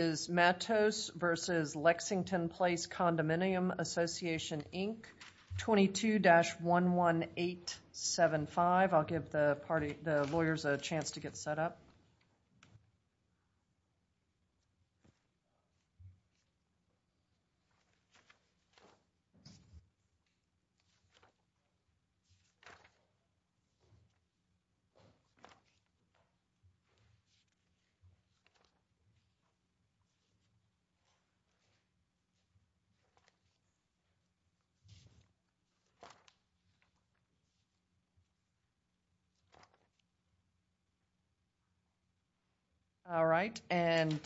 vs. Lexington Place Condominium Association, Inc. 22-11875 I'll give the lawyers a chance to get set up. All right, and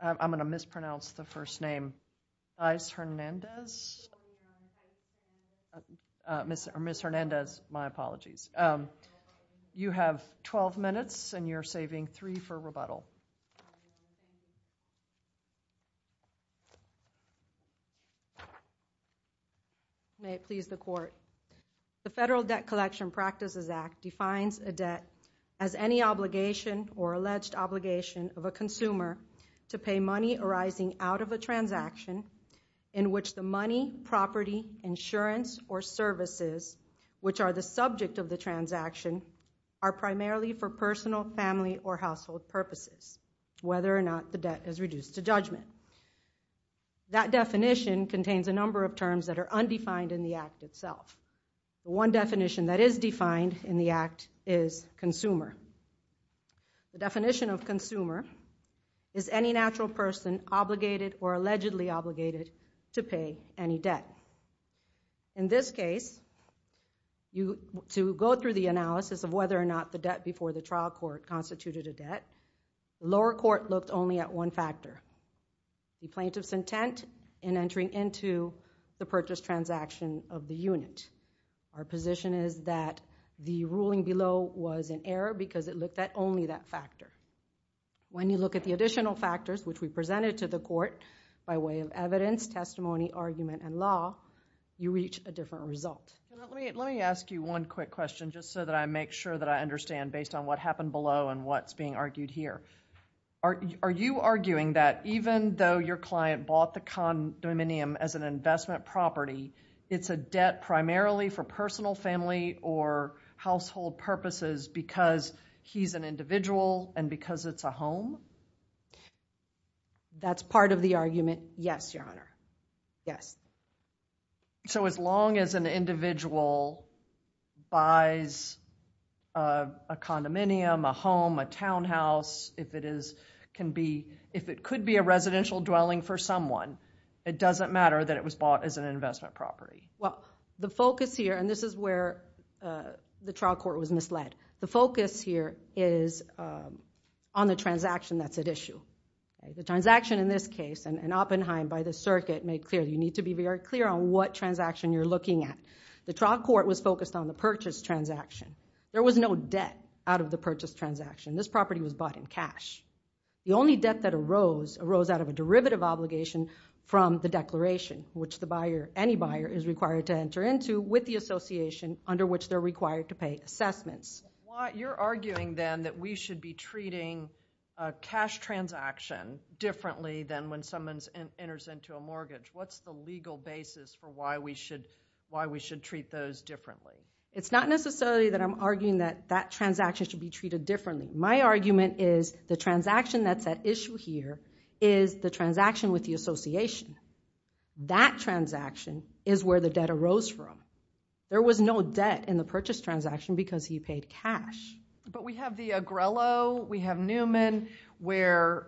I'm going to mispronounce the first name. Ms. Hernandez, you have 12 minutes and you're saving three for rebuttal. The Federal Debt Collection Practices Act defines a debt as any obligation or alleged transaction in which the money, property, insurance, or services which are the subject of the transaction are primarily for personal, family, or household purposes, whether or not the debt is reduced to judgment. That definition contains a number of terms that are undefined in the Act itself. One definition that is defined in the Act is consumer. The definition of consumer is any natural person obligated or allegedly obligated to pay any debt. In this case, to go through the analysis of whether or not the debt before the trial court constituted a debt, the lower court looked only at one factor, the plaintiff's intent Our position is that the ruling below was an error because it looked at only that factor. When you look at the additional factors which we presented to the court by way of evidence, testimony, argument, and law, you reach a different result. Let me ask you one quick question just so that I make sure that I understand based on what happened below and what's being argued here. Are you arguing that even though your client bought the condominium as an investment property, it's a debt primarily for personal, family, or household purposes because he's an individual and because it's a home? That's part of the argument, yes, Your Honor. Yes. As long as an individual buys a condominium, a home, a townhouse, if it could be a residential dwelling for someone, it doesn't matter that it was bought as an investment property. The focus here, and this is where the trial court was misled. The focus here is on the transaction that's at issue. The transaction in this case, an Oppenheim by the circuit made clear, you need to be very clear on what transaction you're looking at. The trial court was focused on the purchase transaction. There was no debt out of the purchase transaction. This property was bought in cash. The only debt that arose, arose out of a derivative obligation from the declaration, which any buyer is required to enter into with the association under which they're required to pay assessments. You're arguing then that we should be treating a cash transaction differently than when someone enters into a mortgage. What's the legal basis for why we should treat those differently? It's not necessarily that I'm arguing that that transaction should be treated differently. My argument is the transaction that's at issue here is the transaction with the association. That transaction is where the debt arose from. There was no debt in the purchase transaction because he paid cash. We have the Agrello, we have Newman, where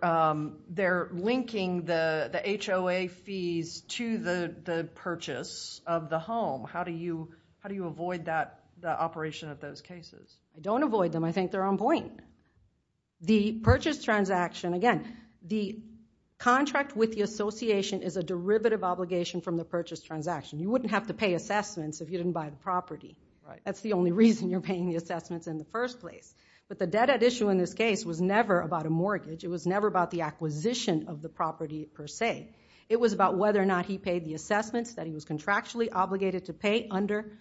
they're linking the HOA fees to the purchase of the home. How do you avoid that operation of those cases? Don't avoid them. I think they're on point. The purchase transaction, again, the contract with the association is a derivative obligation from the purchase transaction. You wouldn't have to pay assessments if you didn't buy the property. That's the only reason you're paying the assessments in the first place. The debt at issue in this case was never about a mortgage. It was never about the acquisition of the property per se. It was about whether or not he paid the assessments that he was contractually obligated to pay under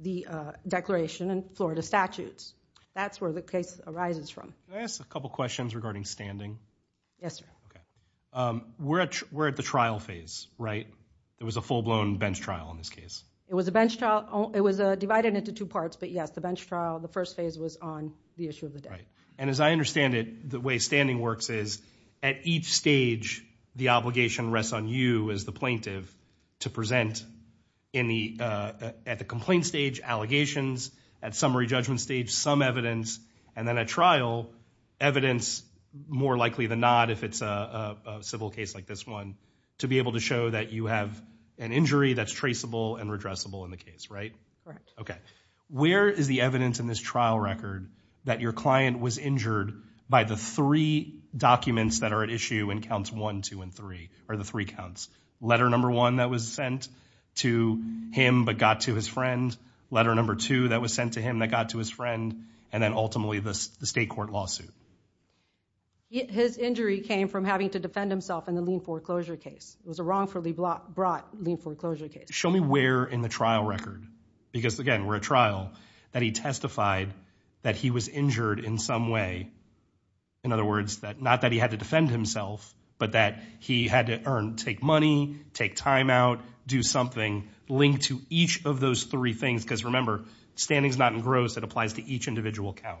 the declaration and Florida statutes. That's where the case arises from. Can I ask a couple questions regarding standing? Yes, sir. Okay. We're at the trial phase, right? It was a full-blown bench trial in this case. It was a bench trial. It was divided into two parts, but yes, the bench trial, the first phase was on the issue of the debt. As I understand it, the way standing works is at each stage, the obligation rests on you as the plaintiff to present at the complaint stage, allegations. At summary judgment stage, some evidence, and then at trial, evidence, more likely than not if it's a civil case like this one, to be able to show that you have an injury that's traceable and redressable in the case, right? Correct. Okay. Where is the evidence in this trial record that your client was injured by the three documents that are at issue in counts one, two, and three, or the three counts? Letter number one that was sent to him but got to his friend. Letter number two that was sent to him that got to his friend. And then ultimately the state court lawsuit. His injury came from having to defend himself in the lien foreclosure case. It was a wrongfully brought lien foreclosure case. Show me where in the trial record, because again, we're at trial, that he testified that he was injured in some way. In other words, not that he had to defend himself, but that he had to take money, take time out, do something linked to each of those three things, because remember, standing's not engrossed. It applies to each individual count.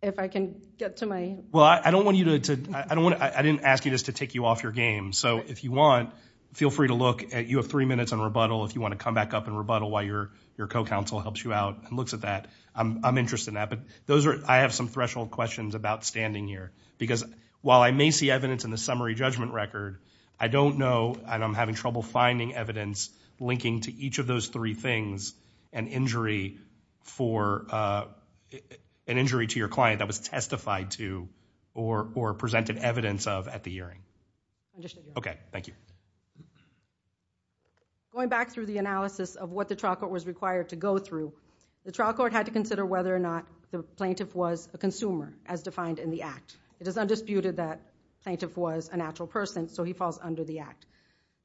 If I can get to my... Well, I don't want you to... I didn't ask you just to take you off your game. So if you want, feel free to look at... You have three minutes on rebuttal if you want to come back up and rebuttal while your co-counsel helps you out and looks at that. I'm interested in that. But those are... I have some threshold questions about standing here. Because while I may see evidence in the summary judgment record, I don't know, and I'm having trouble finding evidence linking to each of those three things, an injury for... An injury to your client that was testified to or presented evidence of at the hearing. I'm just... Okay. Thank you. Going back through the analysis of what the trial court was required to go through, the trial court had to consider whether or not the plaintiff was a consumer as defined in the act. It is undisputed that the plaintiff was a natural person, so he falls under the act.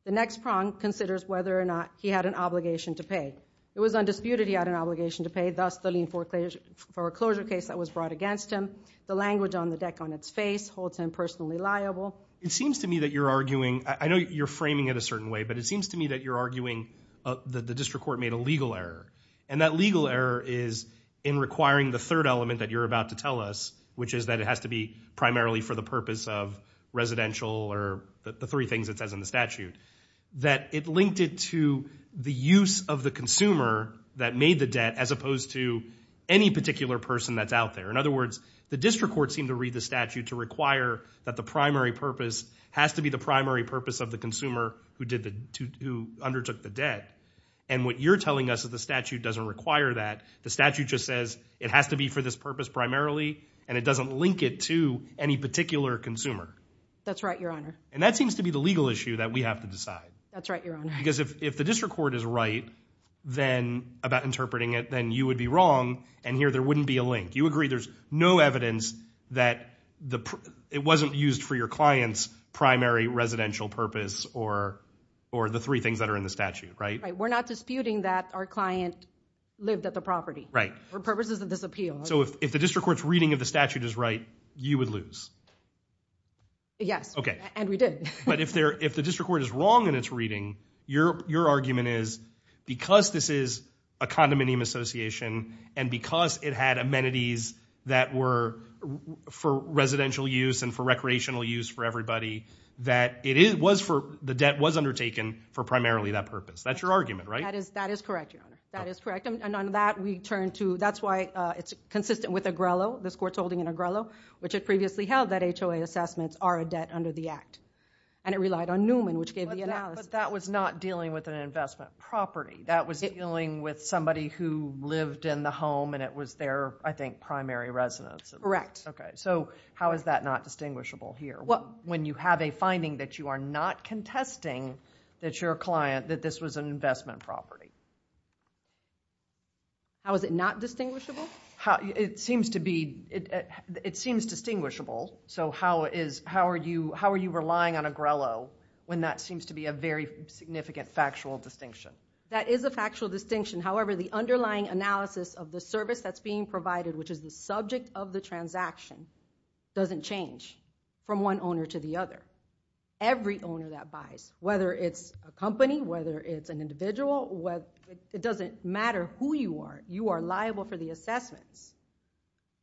The next prong considers whether or not he had an obligation to pay. It was undisputed he had an obligation to pay, thus the lien for a closure case that was brought against him. The language on the deck on its face holds him personally liable. It seems to me that you're arguing... I know you're framing it a certain way, but it seems to me that you're arguing that the district court made a legal error. And that legal error is in requiring the third element that you're about to tell us, which is that it has to be primarily for the purpose of residential or the three things it says in the statute. That it linked it to the use of the consumer that made the debt as opposed to any particular person that's out there. In other words, the district court seemed to read the statute to require that the primary purpose has to be the primary purpose of the consumer who undertook the debt. And what you're telling us is the statute doesn't require that. The statute just says it has to be for this purpose primarily and it doesn't link it to any particular consumer. That's right, your honor. And that seems to be the legal issue that we have to decide. That's right, your honor. Because if the district court is right about interpreting it, then you would be wrong and here there wouldn't be a link. You agree there's no evidence that it wasn't used for your client's primary residential purpose or the three things that are in the statute, right? We're not disputing that our client lived at the property for purposes of this appeal. So if the district court's reading of the statute is right, you would lose? Yes. Okay. And we did. But if the district court is wrong in its reading, your argument is because this is a condominium association and because it had amenities that were for residential use and for recreational use for everybody, that the debt was undertaken for primarily that purpose. That's your argument, right? That is correct, your honor. That is correct. And on that we turn to, that's why it's consistent with Agrello, this court's holding in Agrello, which had previously held that HOA assessments are a debt under the act. And it relied on Newman, which gave the analysis. But that was not dealing with an investment property. That was dealing with somebody who lived in the home and it was their, I think, primary residence. Correct. Okay. So how is that not distinguishable here? When you have a finding that you are not contesting that your client, that this was an investment property. How is it not distinguishable? It seems to be, it seems distinguishable. So how are you relying on Agrello when that seems to be a very significant factual distinction? That is a factual distinction. However, the underlying analysis of the service that's being provided, which is the subject of the transaction, doesn't change from one owner to the other. Every owner that buys, whether it's a company, whether it's an individual, it doesn't matter who you are. You are liable for the assessments.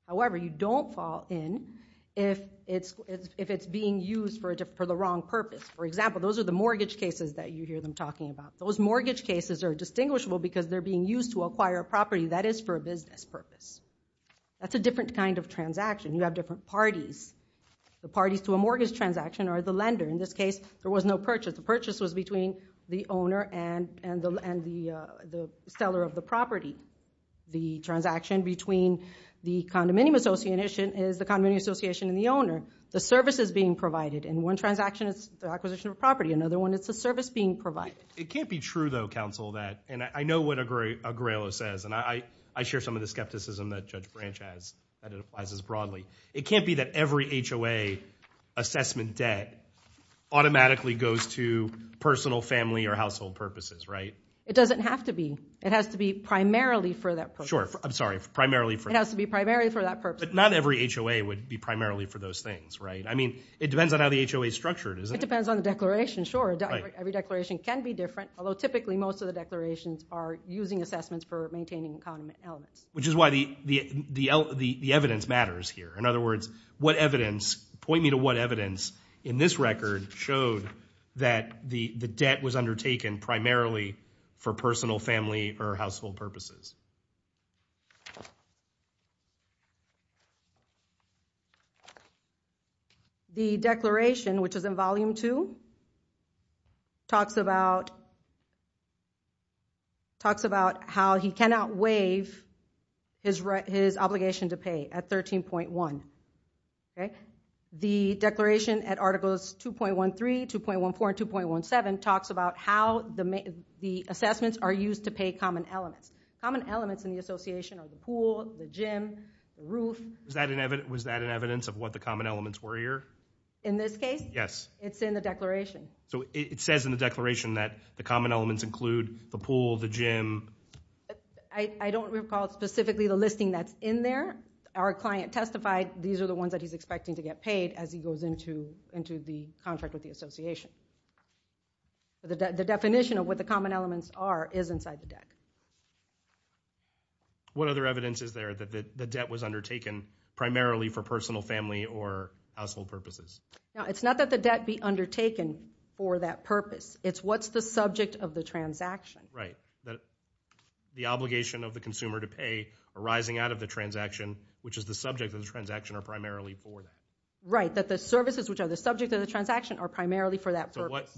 However, you don't fall in if it's being used for the wrong purpose. For example, those are the mortgage cases that you hear them talking about. Those mortgage cases are distinguishable because they're being used to acquire a property that is for a business purpose. That's a different kind of transaction. You have different parties. The parties to a mortgage transaction are the lender. In this case, there was no purchase. The purchase was between the owner and the seller of the property. The transaction between the condominium association is the condominium association and the owner. The service is being provided. In one transaction, it's the acquisition of a property. Another one, it's the service being provided. It can't be true though, counsel, that, and I know what Agrello says, and I share some of the skepticism that Judge Branch has, that it applies as broadly. It can't be that every HOA assessment debt automatically goes to personal, family, or household purposes, right? It doesn't have to be. It has to be primarily for that purpose. Sure. I'm sorry. Primarily for that purpose. It has to be primarily for that purpose. But not every HOA would be primarily for those things, right? I mean, it depends on how the HOA is structured, isn't it? It depends on the declaration, sure. Every declaration can be different, although typically most of the declarations are using assessments for maintaining accounting elements. Which is why the evidence matters here. In other words, what evidence, point me to what evidence in this record showed that the debt was undertaken primarily for personal, family, or household purposes? The declaration, which is in volume two, talks about how he cannot waive his obligation to pay at 13.1, okay? The declaration at articles 2.13, 2.14, and 2.17 talks about how the assessments are used to pay common elements. Common elements in the association are the pool, the gym, the roof. Was that an evidence of what the common elements were here? In this case? Yes. It's in the declaration. So it says in the declaration that the common elements include the pool, the gym. I don't recall specifically the listing that's in there. Our client testified these are the ones that he's expecting to get paid as he goes into the contract with the association. The definition of what the common elements are is inside the deck. What other evidence is there that the debt was undertaken primarily for personal, family, or household purposes? It's not that the debt be undertaken for that purpose. It's what's the subject of the transaction. The obligation of the consumer to pay arising out of the transaction, which is the subject of the transaction, are primarily for that. Right. That the services, which are the subject of the transaction, are primarily for that purpose.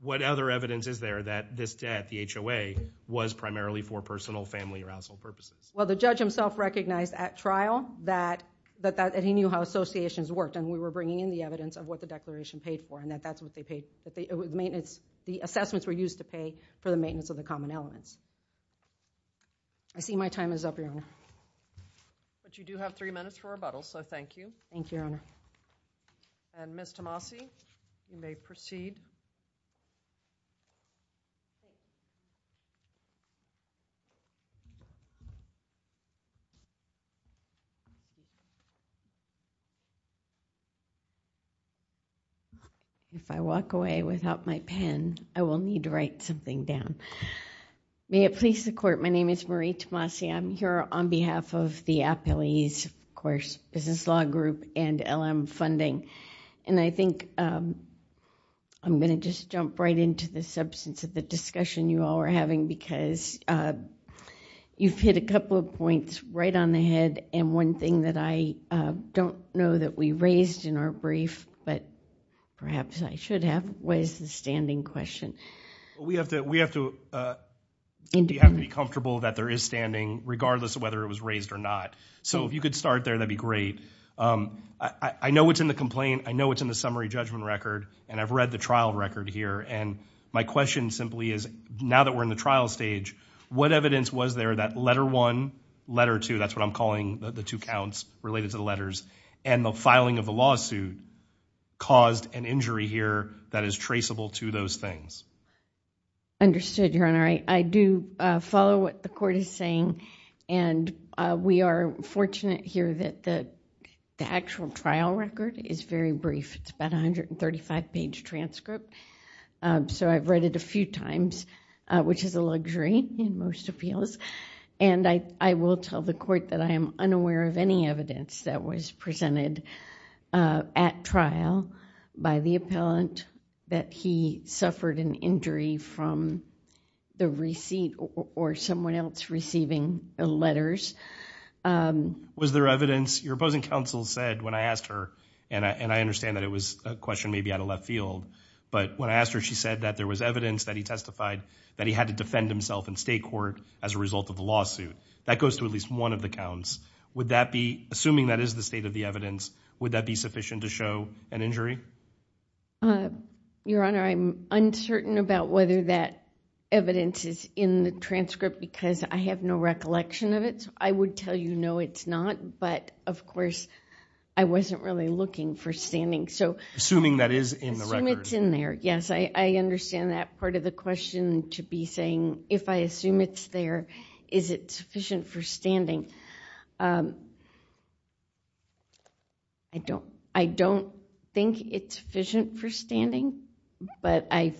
What other evidence is there that this debt, the HOA, was primarily for personal, family, or household purposes? Well, the judge himself recognized at trial that he knew how associations worked, and we were bringing in the evidence of what the declaration paid for, and that that's what they paid. The assessments were used to pay for the maintenance of the common elements. I see my time is up, Your Honor. But you do have three minutes for rebuttal, so thank you. Thank you, Your Honor. And Ms. Tomasi, you may proceed. If I walk away without my pen, I will need to write something down. May it please the Court, my name is Marie Tomasi. I'm here on behalf of the appellees, of course, Business Law Group, and LM Funding. And I think I'm going to just jump right into the substance of the discussion you all are having, because you've hit a couple of points right on the head, and one thing that I don't know that we raised in our brief, but perhaps I should have, was the standing question. We have to be comfortable that there is standing, regardless of whether it was raised or not. So if you could start there, that'd be great. I know what's in the complaint. I know what's in the summary judgment record, and I've read the trial record here. And my question simply is, now that we're in the trial stage, what evidence was there that letter one, letter two, that's what I'm calling the two counts related to the letters, and the filing of the lawsuit caused an injury here that is traceable to those things? Understood, Your Honor. I do follow what the court is saying, and we are fortunate here that the actual trial record is very brief. It's about a 135-page transcript, so I've read it a few times, which is a luxury in most appeals. And I will tell the court that I am unaware of any evidence that was presented at trial by the appellant that he suffered an injury from the receipt or someone else receiving the letters. Was there evidence? Your opposing counsel said when I asked her, and I understand that it was a question maybe out of left field, but when I asked her, she said that there was evidence that he testified that he had to defend himself in state court as a result of the lawsuit. That goes to at least one of the counts. Would that be, assuming that is the state of the evidence, would that be sufficient to show an injury? Your Honor, I'm uncertain about whether that evidence is in the transcript because I have no recollection of it. I would tell you no, it's not. But, of course, I wasn't really looking for standing. Assuming that is in the record. Assuming it's in there, yes. I understand that part of the question to be saying, if I assume it's there, is it sufficient for standing? I don't think it's sufficient for standing, but I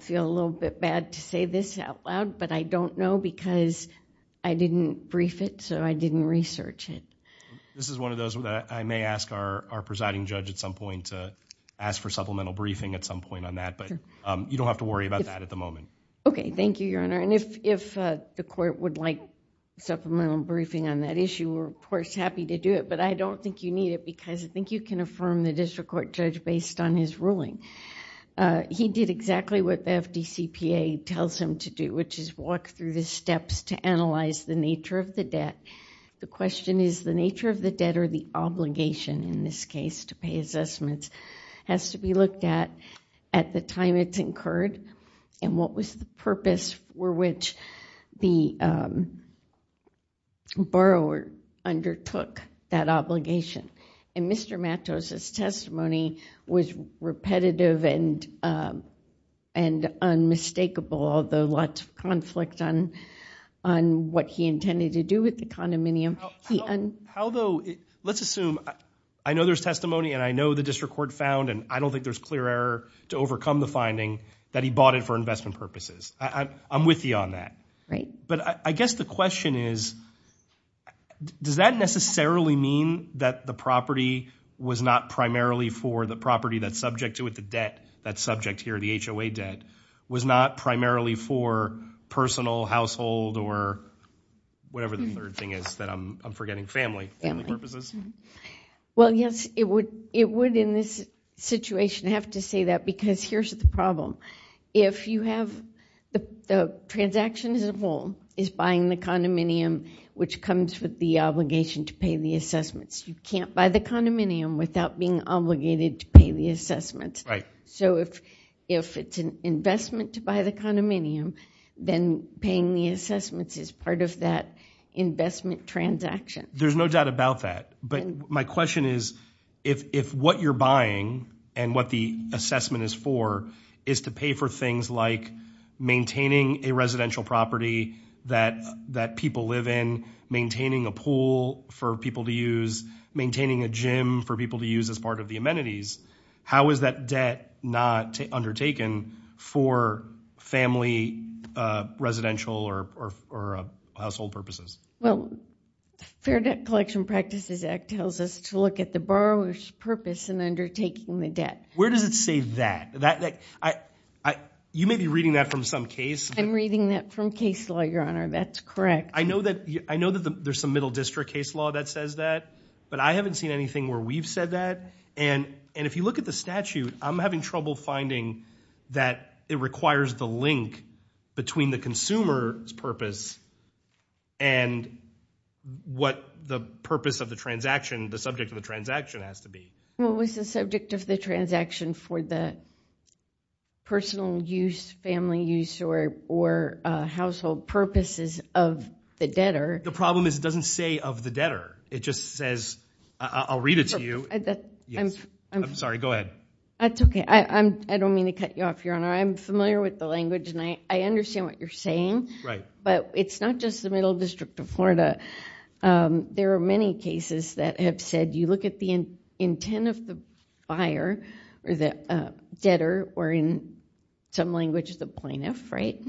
feel a little bit bad to say this out loud, but I don't know because I didn't brief it, so I didn't research it. This is one of those where I may ask our presiding judge at some point to ask for supplemental briefing at some point on that, but you don't have to worry about that at the moment. Okay. Thank you, Your Honor. If the court would like supplemental briefing on that issue, we're, of course, happy to do it, but I don't think you need it because I think you can affirm the district court judge based on his ruling. He did exactly what the FDCPA tells him to do, which is walk through the steps to analyze the nature of the debt. The question is the nature of the debt or the obligation in this case to pay assessments has to be looked at at the time it's incurred and what was the purpose for which the borrower undertook that obligation. Mr. Matos' testimony was repetitive and unmistakable, although lots of conflict on what he intended to do with the condominium. Let's assume, I know there's testimony and I know the district court found and I don't think there's clear error to overcome the finding that he bought it for investment purposes. I'm with you on that. Right. But I guess the question is, does that necessarily mean that the property was not primarily for the property that's subject to it, the debt, that subject here, the HOA debt, was not primarily for personal, household, or whatever the third thing is that I'm forgetting, family purposes? Well, yes, it would in this situation have to say that because here's the problem. If you have the transaction as a whole is buying the condominium, which comes with the obligation to pay the assessments, you can't buy the condominium without being obligated to pay the assessments. Right. So if it's an investment to buy the condominium, then paying the assessments is part of that investment transaction. There's no doubt about that. But my question is, if what you're buying and what the assessment is for is to pay for things like maintaining a residential property that people live in, maintaining a pool for people to use, maintaining a gym for people to use as part of the amenities, how is that debt not undertaken for family, residential, or household purposes? Well, the Fair Debt Collection Practices Act tells us to look at the borrower's purpose in undertaking the debt. Where does it say that? You may be reading that from some case. I'm reading that from case law, Your Honor. That's correct. I know that there's some middle district case law that says that, but I haven't seen anything where we've said that. And if you look at the statute, I'm having trouble finding that it requires the link between the consumer's purpose and what the purpose of the transaction, the subject of the transaction has to be. What was the subject of the transaction for the personal use, family use, or household purposes of the debtor? The problem is it doesn't say of the debtor. It just says, I'll read it to you. I'm sorry. Go ahead. That's OK. I don't mean to cut you off, Your Honor. I'm familiar with the language, and I understand what you're saying, but it's not just the middle district of Florida. There are many cases that have said you look at the intent of the buyer, or the debtor, or in some languages, the plaintiff, right?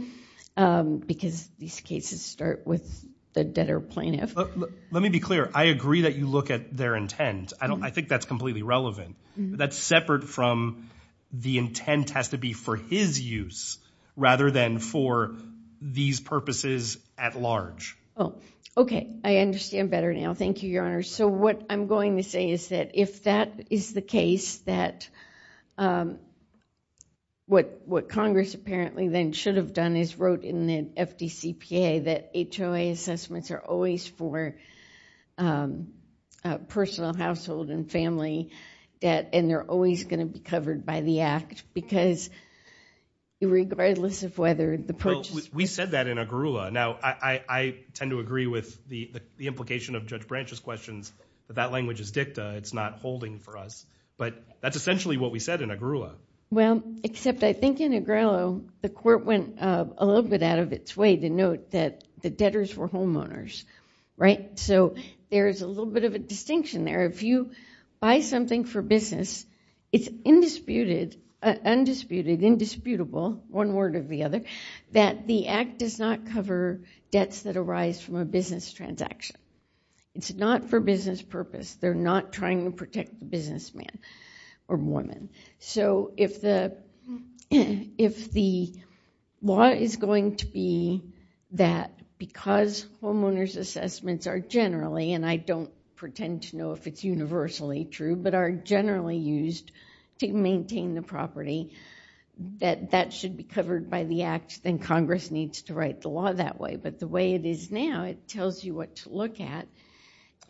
Because these cases start with the debtor plaintiff. Let me be clear. I agree that you look at their intent. I think that's completely relevant. That's separate from the intent has to be for his use rather than for these purposes at large. Oh, OK. I understand better now. Thank you, Your Honor. So what I'm going to say is that if that is the case, that what Congress apparently then should have done is wrote in the FDCPA that HOA assessments are always for personal, household, and family debt, and they're always going to be covered by the act because regardless of whether the purchase- We said that in Agrula. Now, I tend to agree with the implication of Judge Branch's questions that that language is dicta. It's not holding for us. But that's essentially what we said in Agrula. Well, except I think in Agrello, the court went a little bit out of its way to note that the debtors were homeowners, right? So there is a little bit of a distinction there. If you buy something for business, it's undisputed, indisputable, one word or the other, that the act does not cover debts that arise from a business transaction. It's not for business purpose. They're not trying to protect the businessman or woman. So if the law is going to be that because homeowners assessments are generally, and I don't pretend to know if it's universally true, but are generally used to maintain the property, that that should be covered by the act, then Congress needs to write the law that way. But the way it is now, it tells you what to look at.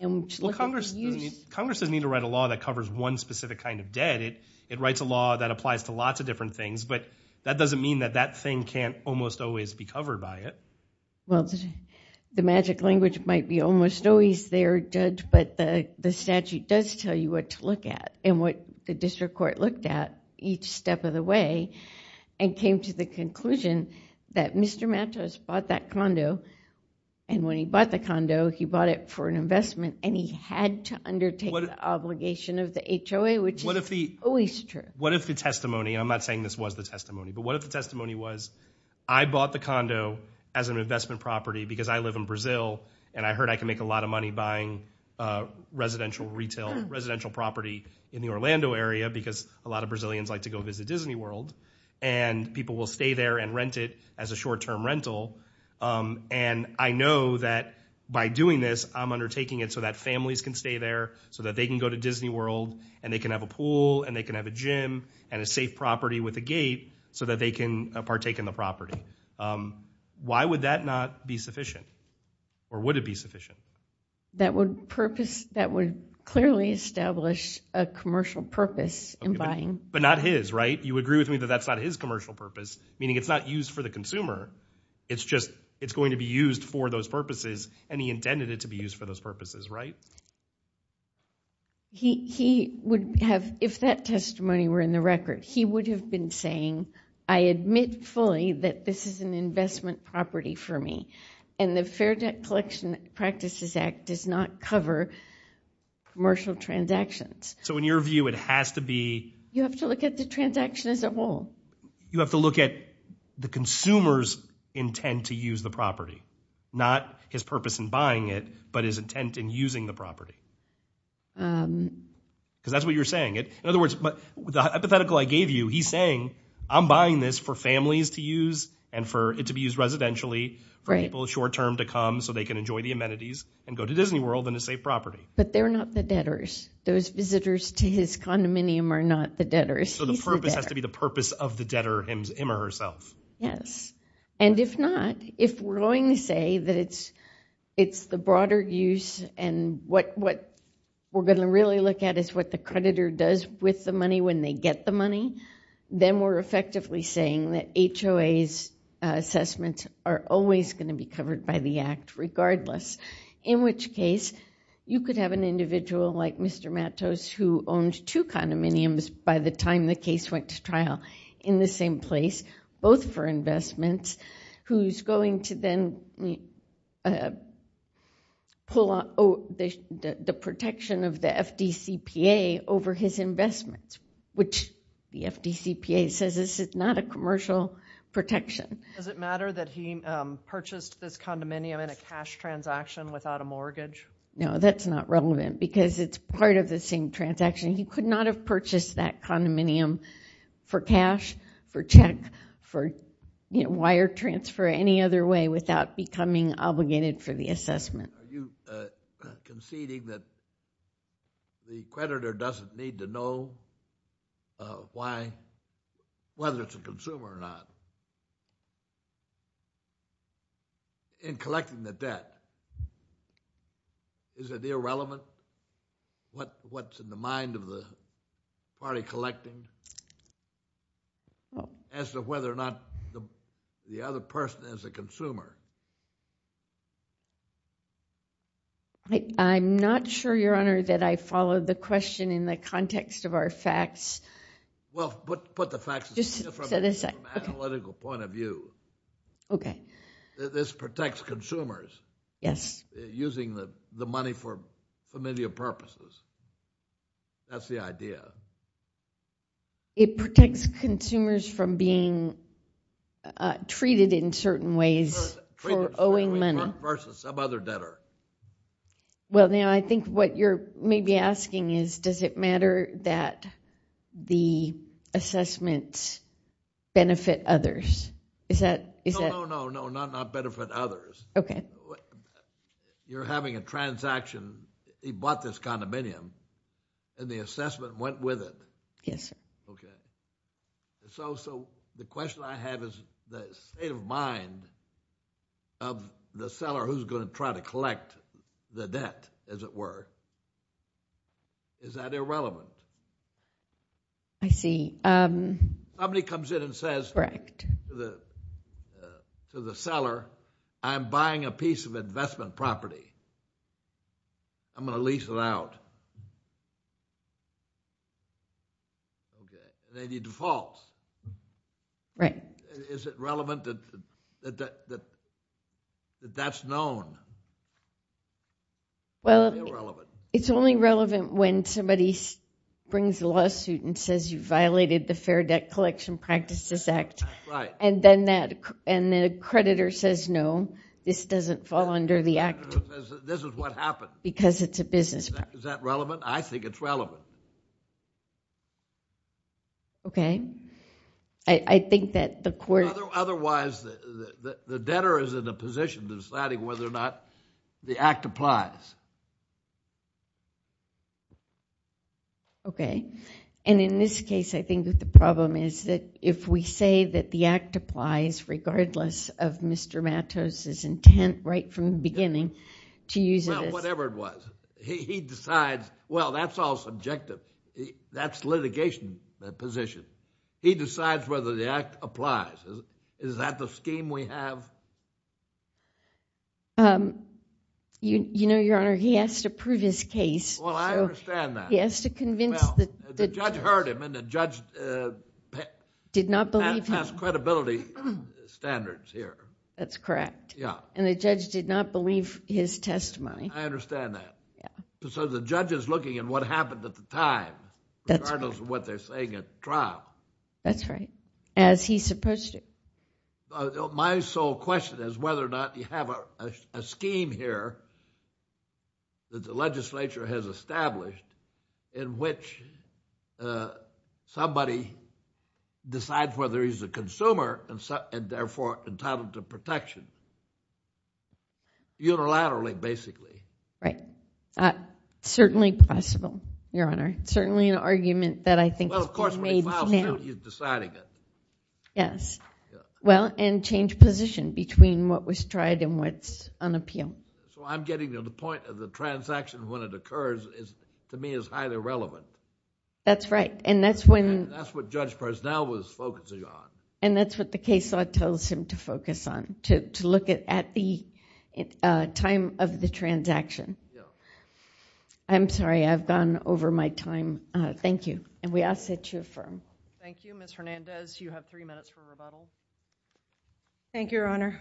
Congress doesn't need to write a law that covers one specific kind of debt. It writes a law that applies to lots of different things. But that doesn't mean that that thing can't almost always be covered by it. Well, the magic language might be almost always there, Judge, but the statute does tell you what to look at and what the district court looked at each step of the way and came to the conclusion that Mr. Matos bought that condo. And when he bought the condo, he bought it for an investment and he had to undertake the obligation of the HOA, which is always true. What if the testimony, I'm not saying this was the testimony, but what if the testimony was I bought the condo as an investment property because I live in Brazil and I heard I can make a lot of money buying residential retail, residential property in the Orlando area because a lot of Brazilians like to go visit Disney World and people will stay there and rent it as a short term rental. And I know that by doing this, I'm undertaking it so that families can stay there, so that they can go to Disney World and they can have a pool and they can have a gym and a safe property with a gate so that they can partake in the property. Why would that not be sufficient or would it be sufficient? That would purpose, that would clearly establish a commercial purpose in buying. But not his, right? You agree with me that that's not his commercial purpose, meaning it's not used for the consumer. It's just, it's going to be used for those purposes and he intended it to be used for those purposes, right? He would have, if that testimony were in the record, he would have been saying, I admit fully that this is an investment property for me and the Fair Debt Collection Practices Act does not cover commercial transactions. So in your view, it has to be. You have to look at the transaction as a whole. You have to look at the consumer's intent to use the property, not his purpose in buying it, but his intent in using the property. Because that's what you're saying. In other words, the hypothetical I gave you, he's saying, I'm buying this for families to use and for it to be used residentially for people short term to come so they can enjoy the amenities and go to Disney World and a safe property. But they're not the debtors. Those visitors to his condominium are not the debtors. So the purpose has to be the purpose of the debtor him or herself. Yes, and if not, if we're going to say that it's the broader use and what we're going to really look at is what the creditor does with the money when they get the money, then we're effectively saying that HOA's assessments are always going to be covered by the Act regardless. In which case, you could have an individual like Mr. Matos who owned two condominiums by the time the case went to trial in the same place. Both for investments, who's going to then pull out the protection of the FDCPA over his investments, which the FDCPA says this is not a commercial protection. Does it matter that he purchased this condominium in a cash transaction without a mortgage? No, that's not relevant because it's part of the same transaction. He could not have purchased that condominium for cash, for check, for wire transfer, any other way without becoming obligated for the assessment. Are you conceding that the creditor doesn't need to know why, whether it's a consumer or not, in collecting the debt? Is it irrelevant what's in the mind of the party collecting as to whether or not the other person is a consumer? I'm not sure, Your Honor, that I follow the question in the context of our facts. Well, put the facts from an analytical point of view. Okay. This protects consumers. Yes. Using the money for familial purposes. That's the idea. It protects consumers from being treated in certain ways for owing money. Versus some other debtor. Well, now, I think what you're maybe asking is, does it matter that the assessments benefit others? No, no, no, no, not benefit others. You're having a transaction. He bought this condominium, and the assessment went with it. Yes, sir. Okay. So the question I have is the state of mind of the seller who's going to try to collect the debt, as it were, is that irrelevant? I see. Somebody comes in and says to the seller, I'm buying a piece of investment property. I'm going to lease it out. Okay. Then he defaults. Right. Is it relevant that that's known? Well, it's only relevant when somebody brings a lawsuit and says, you violated the Fair Debt Collection Practices Act. Right. And the creditor says, no, this doesn't fall under the act. This is what happened. Because it's a business. Is that relevant? I think it's relevant. Okay. I think that the court... Otherwise, the debtor is in a position deciding whether or not the act applies. Okay. And in this case, I think that the problem is that if we say that the act applies, regardless of Mr. Matos' intent right from the beginning to use it as... Well, whatever it was, he decides, well, that's all subjective. That's litigation position. He decides whether the act applies. Is that the scheme we have? You know, Your Honor, he has to prove his case. Well, I understand that. Well, the judge heard him and the judge passed credibility standards here. That's correct. Yeah. And the judge did not believe his testimony. I understand that. So the judge is looking at what happened at the time, regardless of what they're saying at the trial. That's right. As he's supposed to. My sole question is whether or not you have a scheme here that the legislature has established in which somebody decides whether he's a consumer and therefore entitled to protection unilaterally, basically. Right. Certainly possible, Your Honor. Certainly an argument that I think... Well, of course, when he files a suit, he's deciding it. Yes. Well, and change position between what was tried and what's on appeal. So I'm getting to the point of the transaction when it occurs, to me, is highly relevant. That's right. And that's when... That's what Judge Personnel was focusing on. And that's what the case law tells him to focus on, to look at the time of the transaction. I'm sorry, I've gone over my time. Thank you. And we ask that you affirm. Thank you. Ms. Hernandez, you have three minutes for rebuttal. Thank you, Your Honor.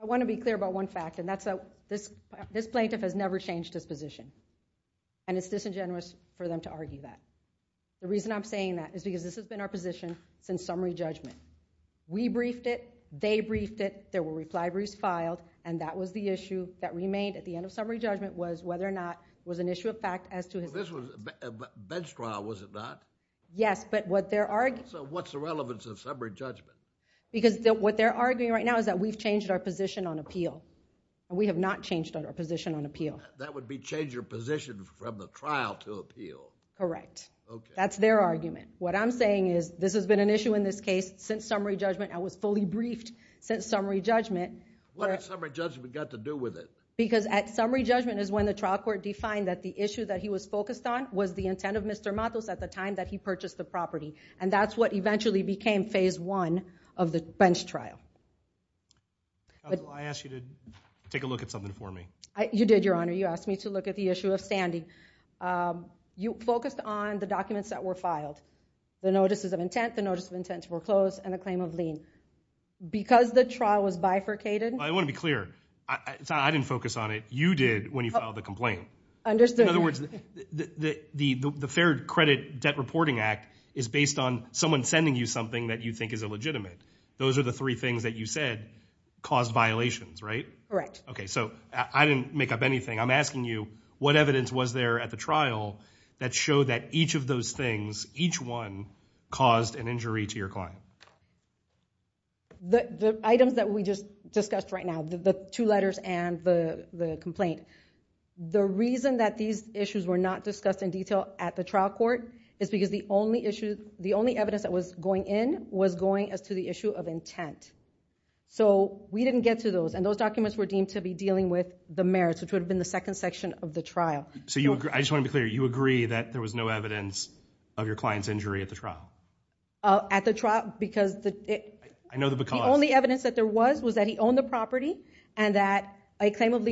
I want to be clear about one fact, and that's that this plaintiff has never changed his position. And it's disingenuous for them to argue that. The reason I'm saying that is because this has been our position since summary judgment. We briefed it. They briefed it. There were reply briefs filed. And that was the issue that remained at the end of summary judgment was whether or not it was an issue of fact as to his... This was a bench trial, was it not? Yes, but what they're arguing... So what's the relevance of summary judgment? Because what they're arguing right now is that we've changed our position on appeal. We have not changed our position on appeal. That would be change your position from the trial to appeal. Correct. That's their argument. What I'm saying is this has been an issue in this case since summary judgment. I was fully briefed since summary judgment. What has summary judgment got to do with it? Because at summary judgment is when the trial court defined that the issue that he was focused on was the intent of Mr. Matos at the time that he purchased the property. And that's what eventually became phase one of the bench trial. I asked you to take a look at something for me. You did, Your Honor. You asked me to look at the issue of standing. You focused on the documents that were filed, the notices of intent, the notice of intent to foreclose, and the claim of lien. Because the trial was bifurcated... I want to be clear. I didn't focus on it. You did when you filed the complaint. Understood. In other words, the Fair Credit Debt Reporting Act is based on someone sending you something that you think is illegitimate. Those are the three things that you said caused violations, right? Correct. Okay. So I didn't make up anything. I'm asking you what evidence was there at the trial that showed that each of those things, each one, caused an injury to your client? The items that we just discussed right now, the two letters and the complaint. The reason that these issues were not discussed in detail at the trial court is because the only evidence that was going in was going as to the issue of intent. So we didn't get to those. And those documents were deemed to be dealing with the merits, which would have been the second section of the trial. So I just want to be clear. You agree that there was no evidence of your client's injury at the trial? At the trial, because... I know the because. The only evidence that there was was that he owned the property and that a claim of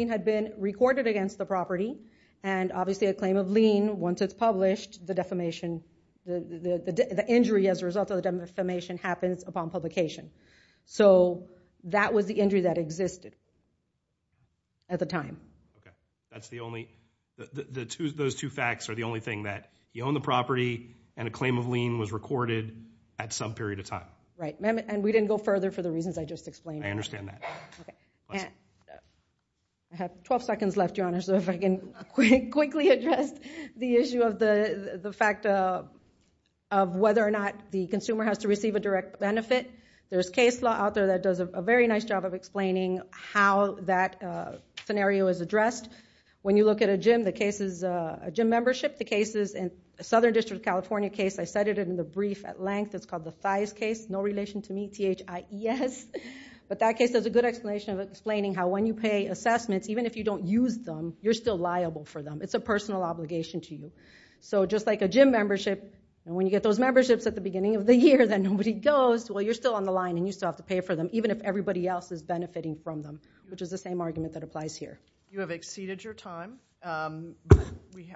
recorded against the property and obviously a claim of lien. Once it's published, the defamation, the injury as a result of the defamation happens upon publication. So that was the injury that existed at the time. That's the only... Those two facts are the only thing that you own the property and a claim of lien was recorded at some period of time. Right. And we didn't go further for the reasons I just explained. I understand that. Okay. I have 12 seconds left, Your Honor, so if I can quickly address the issue of the fact of whether or not the consumer has to receive a direct benefit. There's case law out there that does a very nice job of explaining how that scenario is addressed. When you look at a gym, the case is a gym membership. The case is a Southern District of California case. I cited it in the brief at length. It's called the Thijs case. No relation to me, T-H-I-E-S. But that case has a good explanation of explaining how when you pay assessments, even if you don't use them, you're still liable for them. It's a personal obligation to you. So just like a gym membership, and when you get those memberships at the beginning of the year, then nobody goes. Well, you're still on the line and you still have to pay for them, even if everybody else is benefiting from them, which is the same argument that applies here. You have exceeded your time.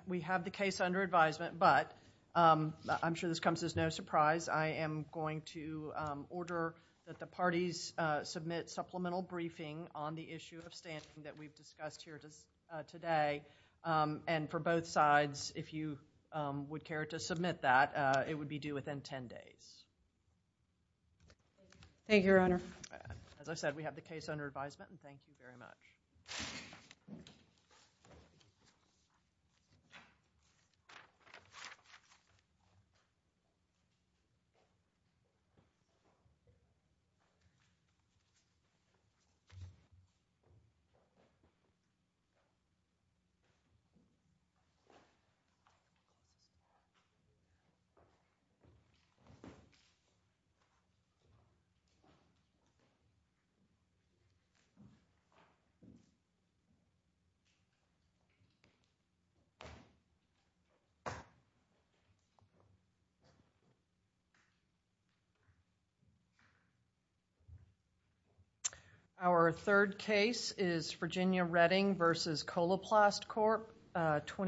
We have the case under advisement, but I'm sure this comes as no surprise. I am going to order that the parties submit supplemental briefing on the issue of standing that we've discussed here today. And for both sides, if you would care to submit that, it would be due within 10 days. Thank you, Your Honor. As I said, we have the case under advisement, and thank you very much. Thank you. Our third case is Virginia Redding v. Coloplast Corp., 2016.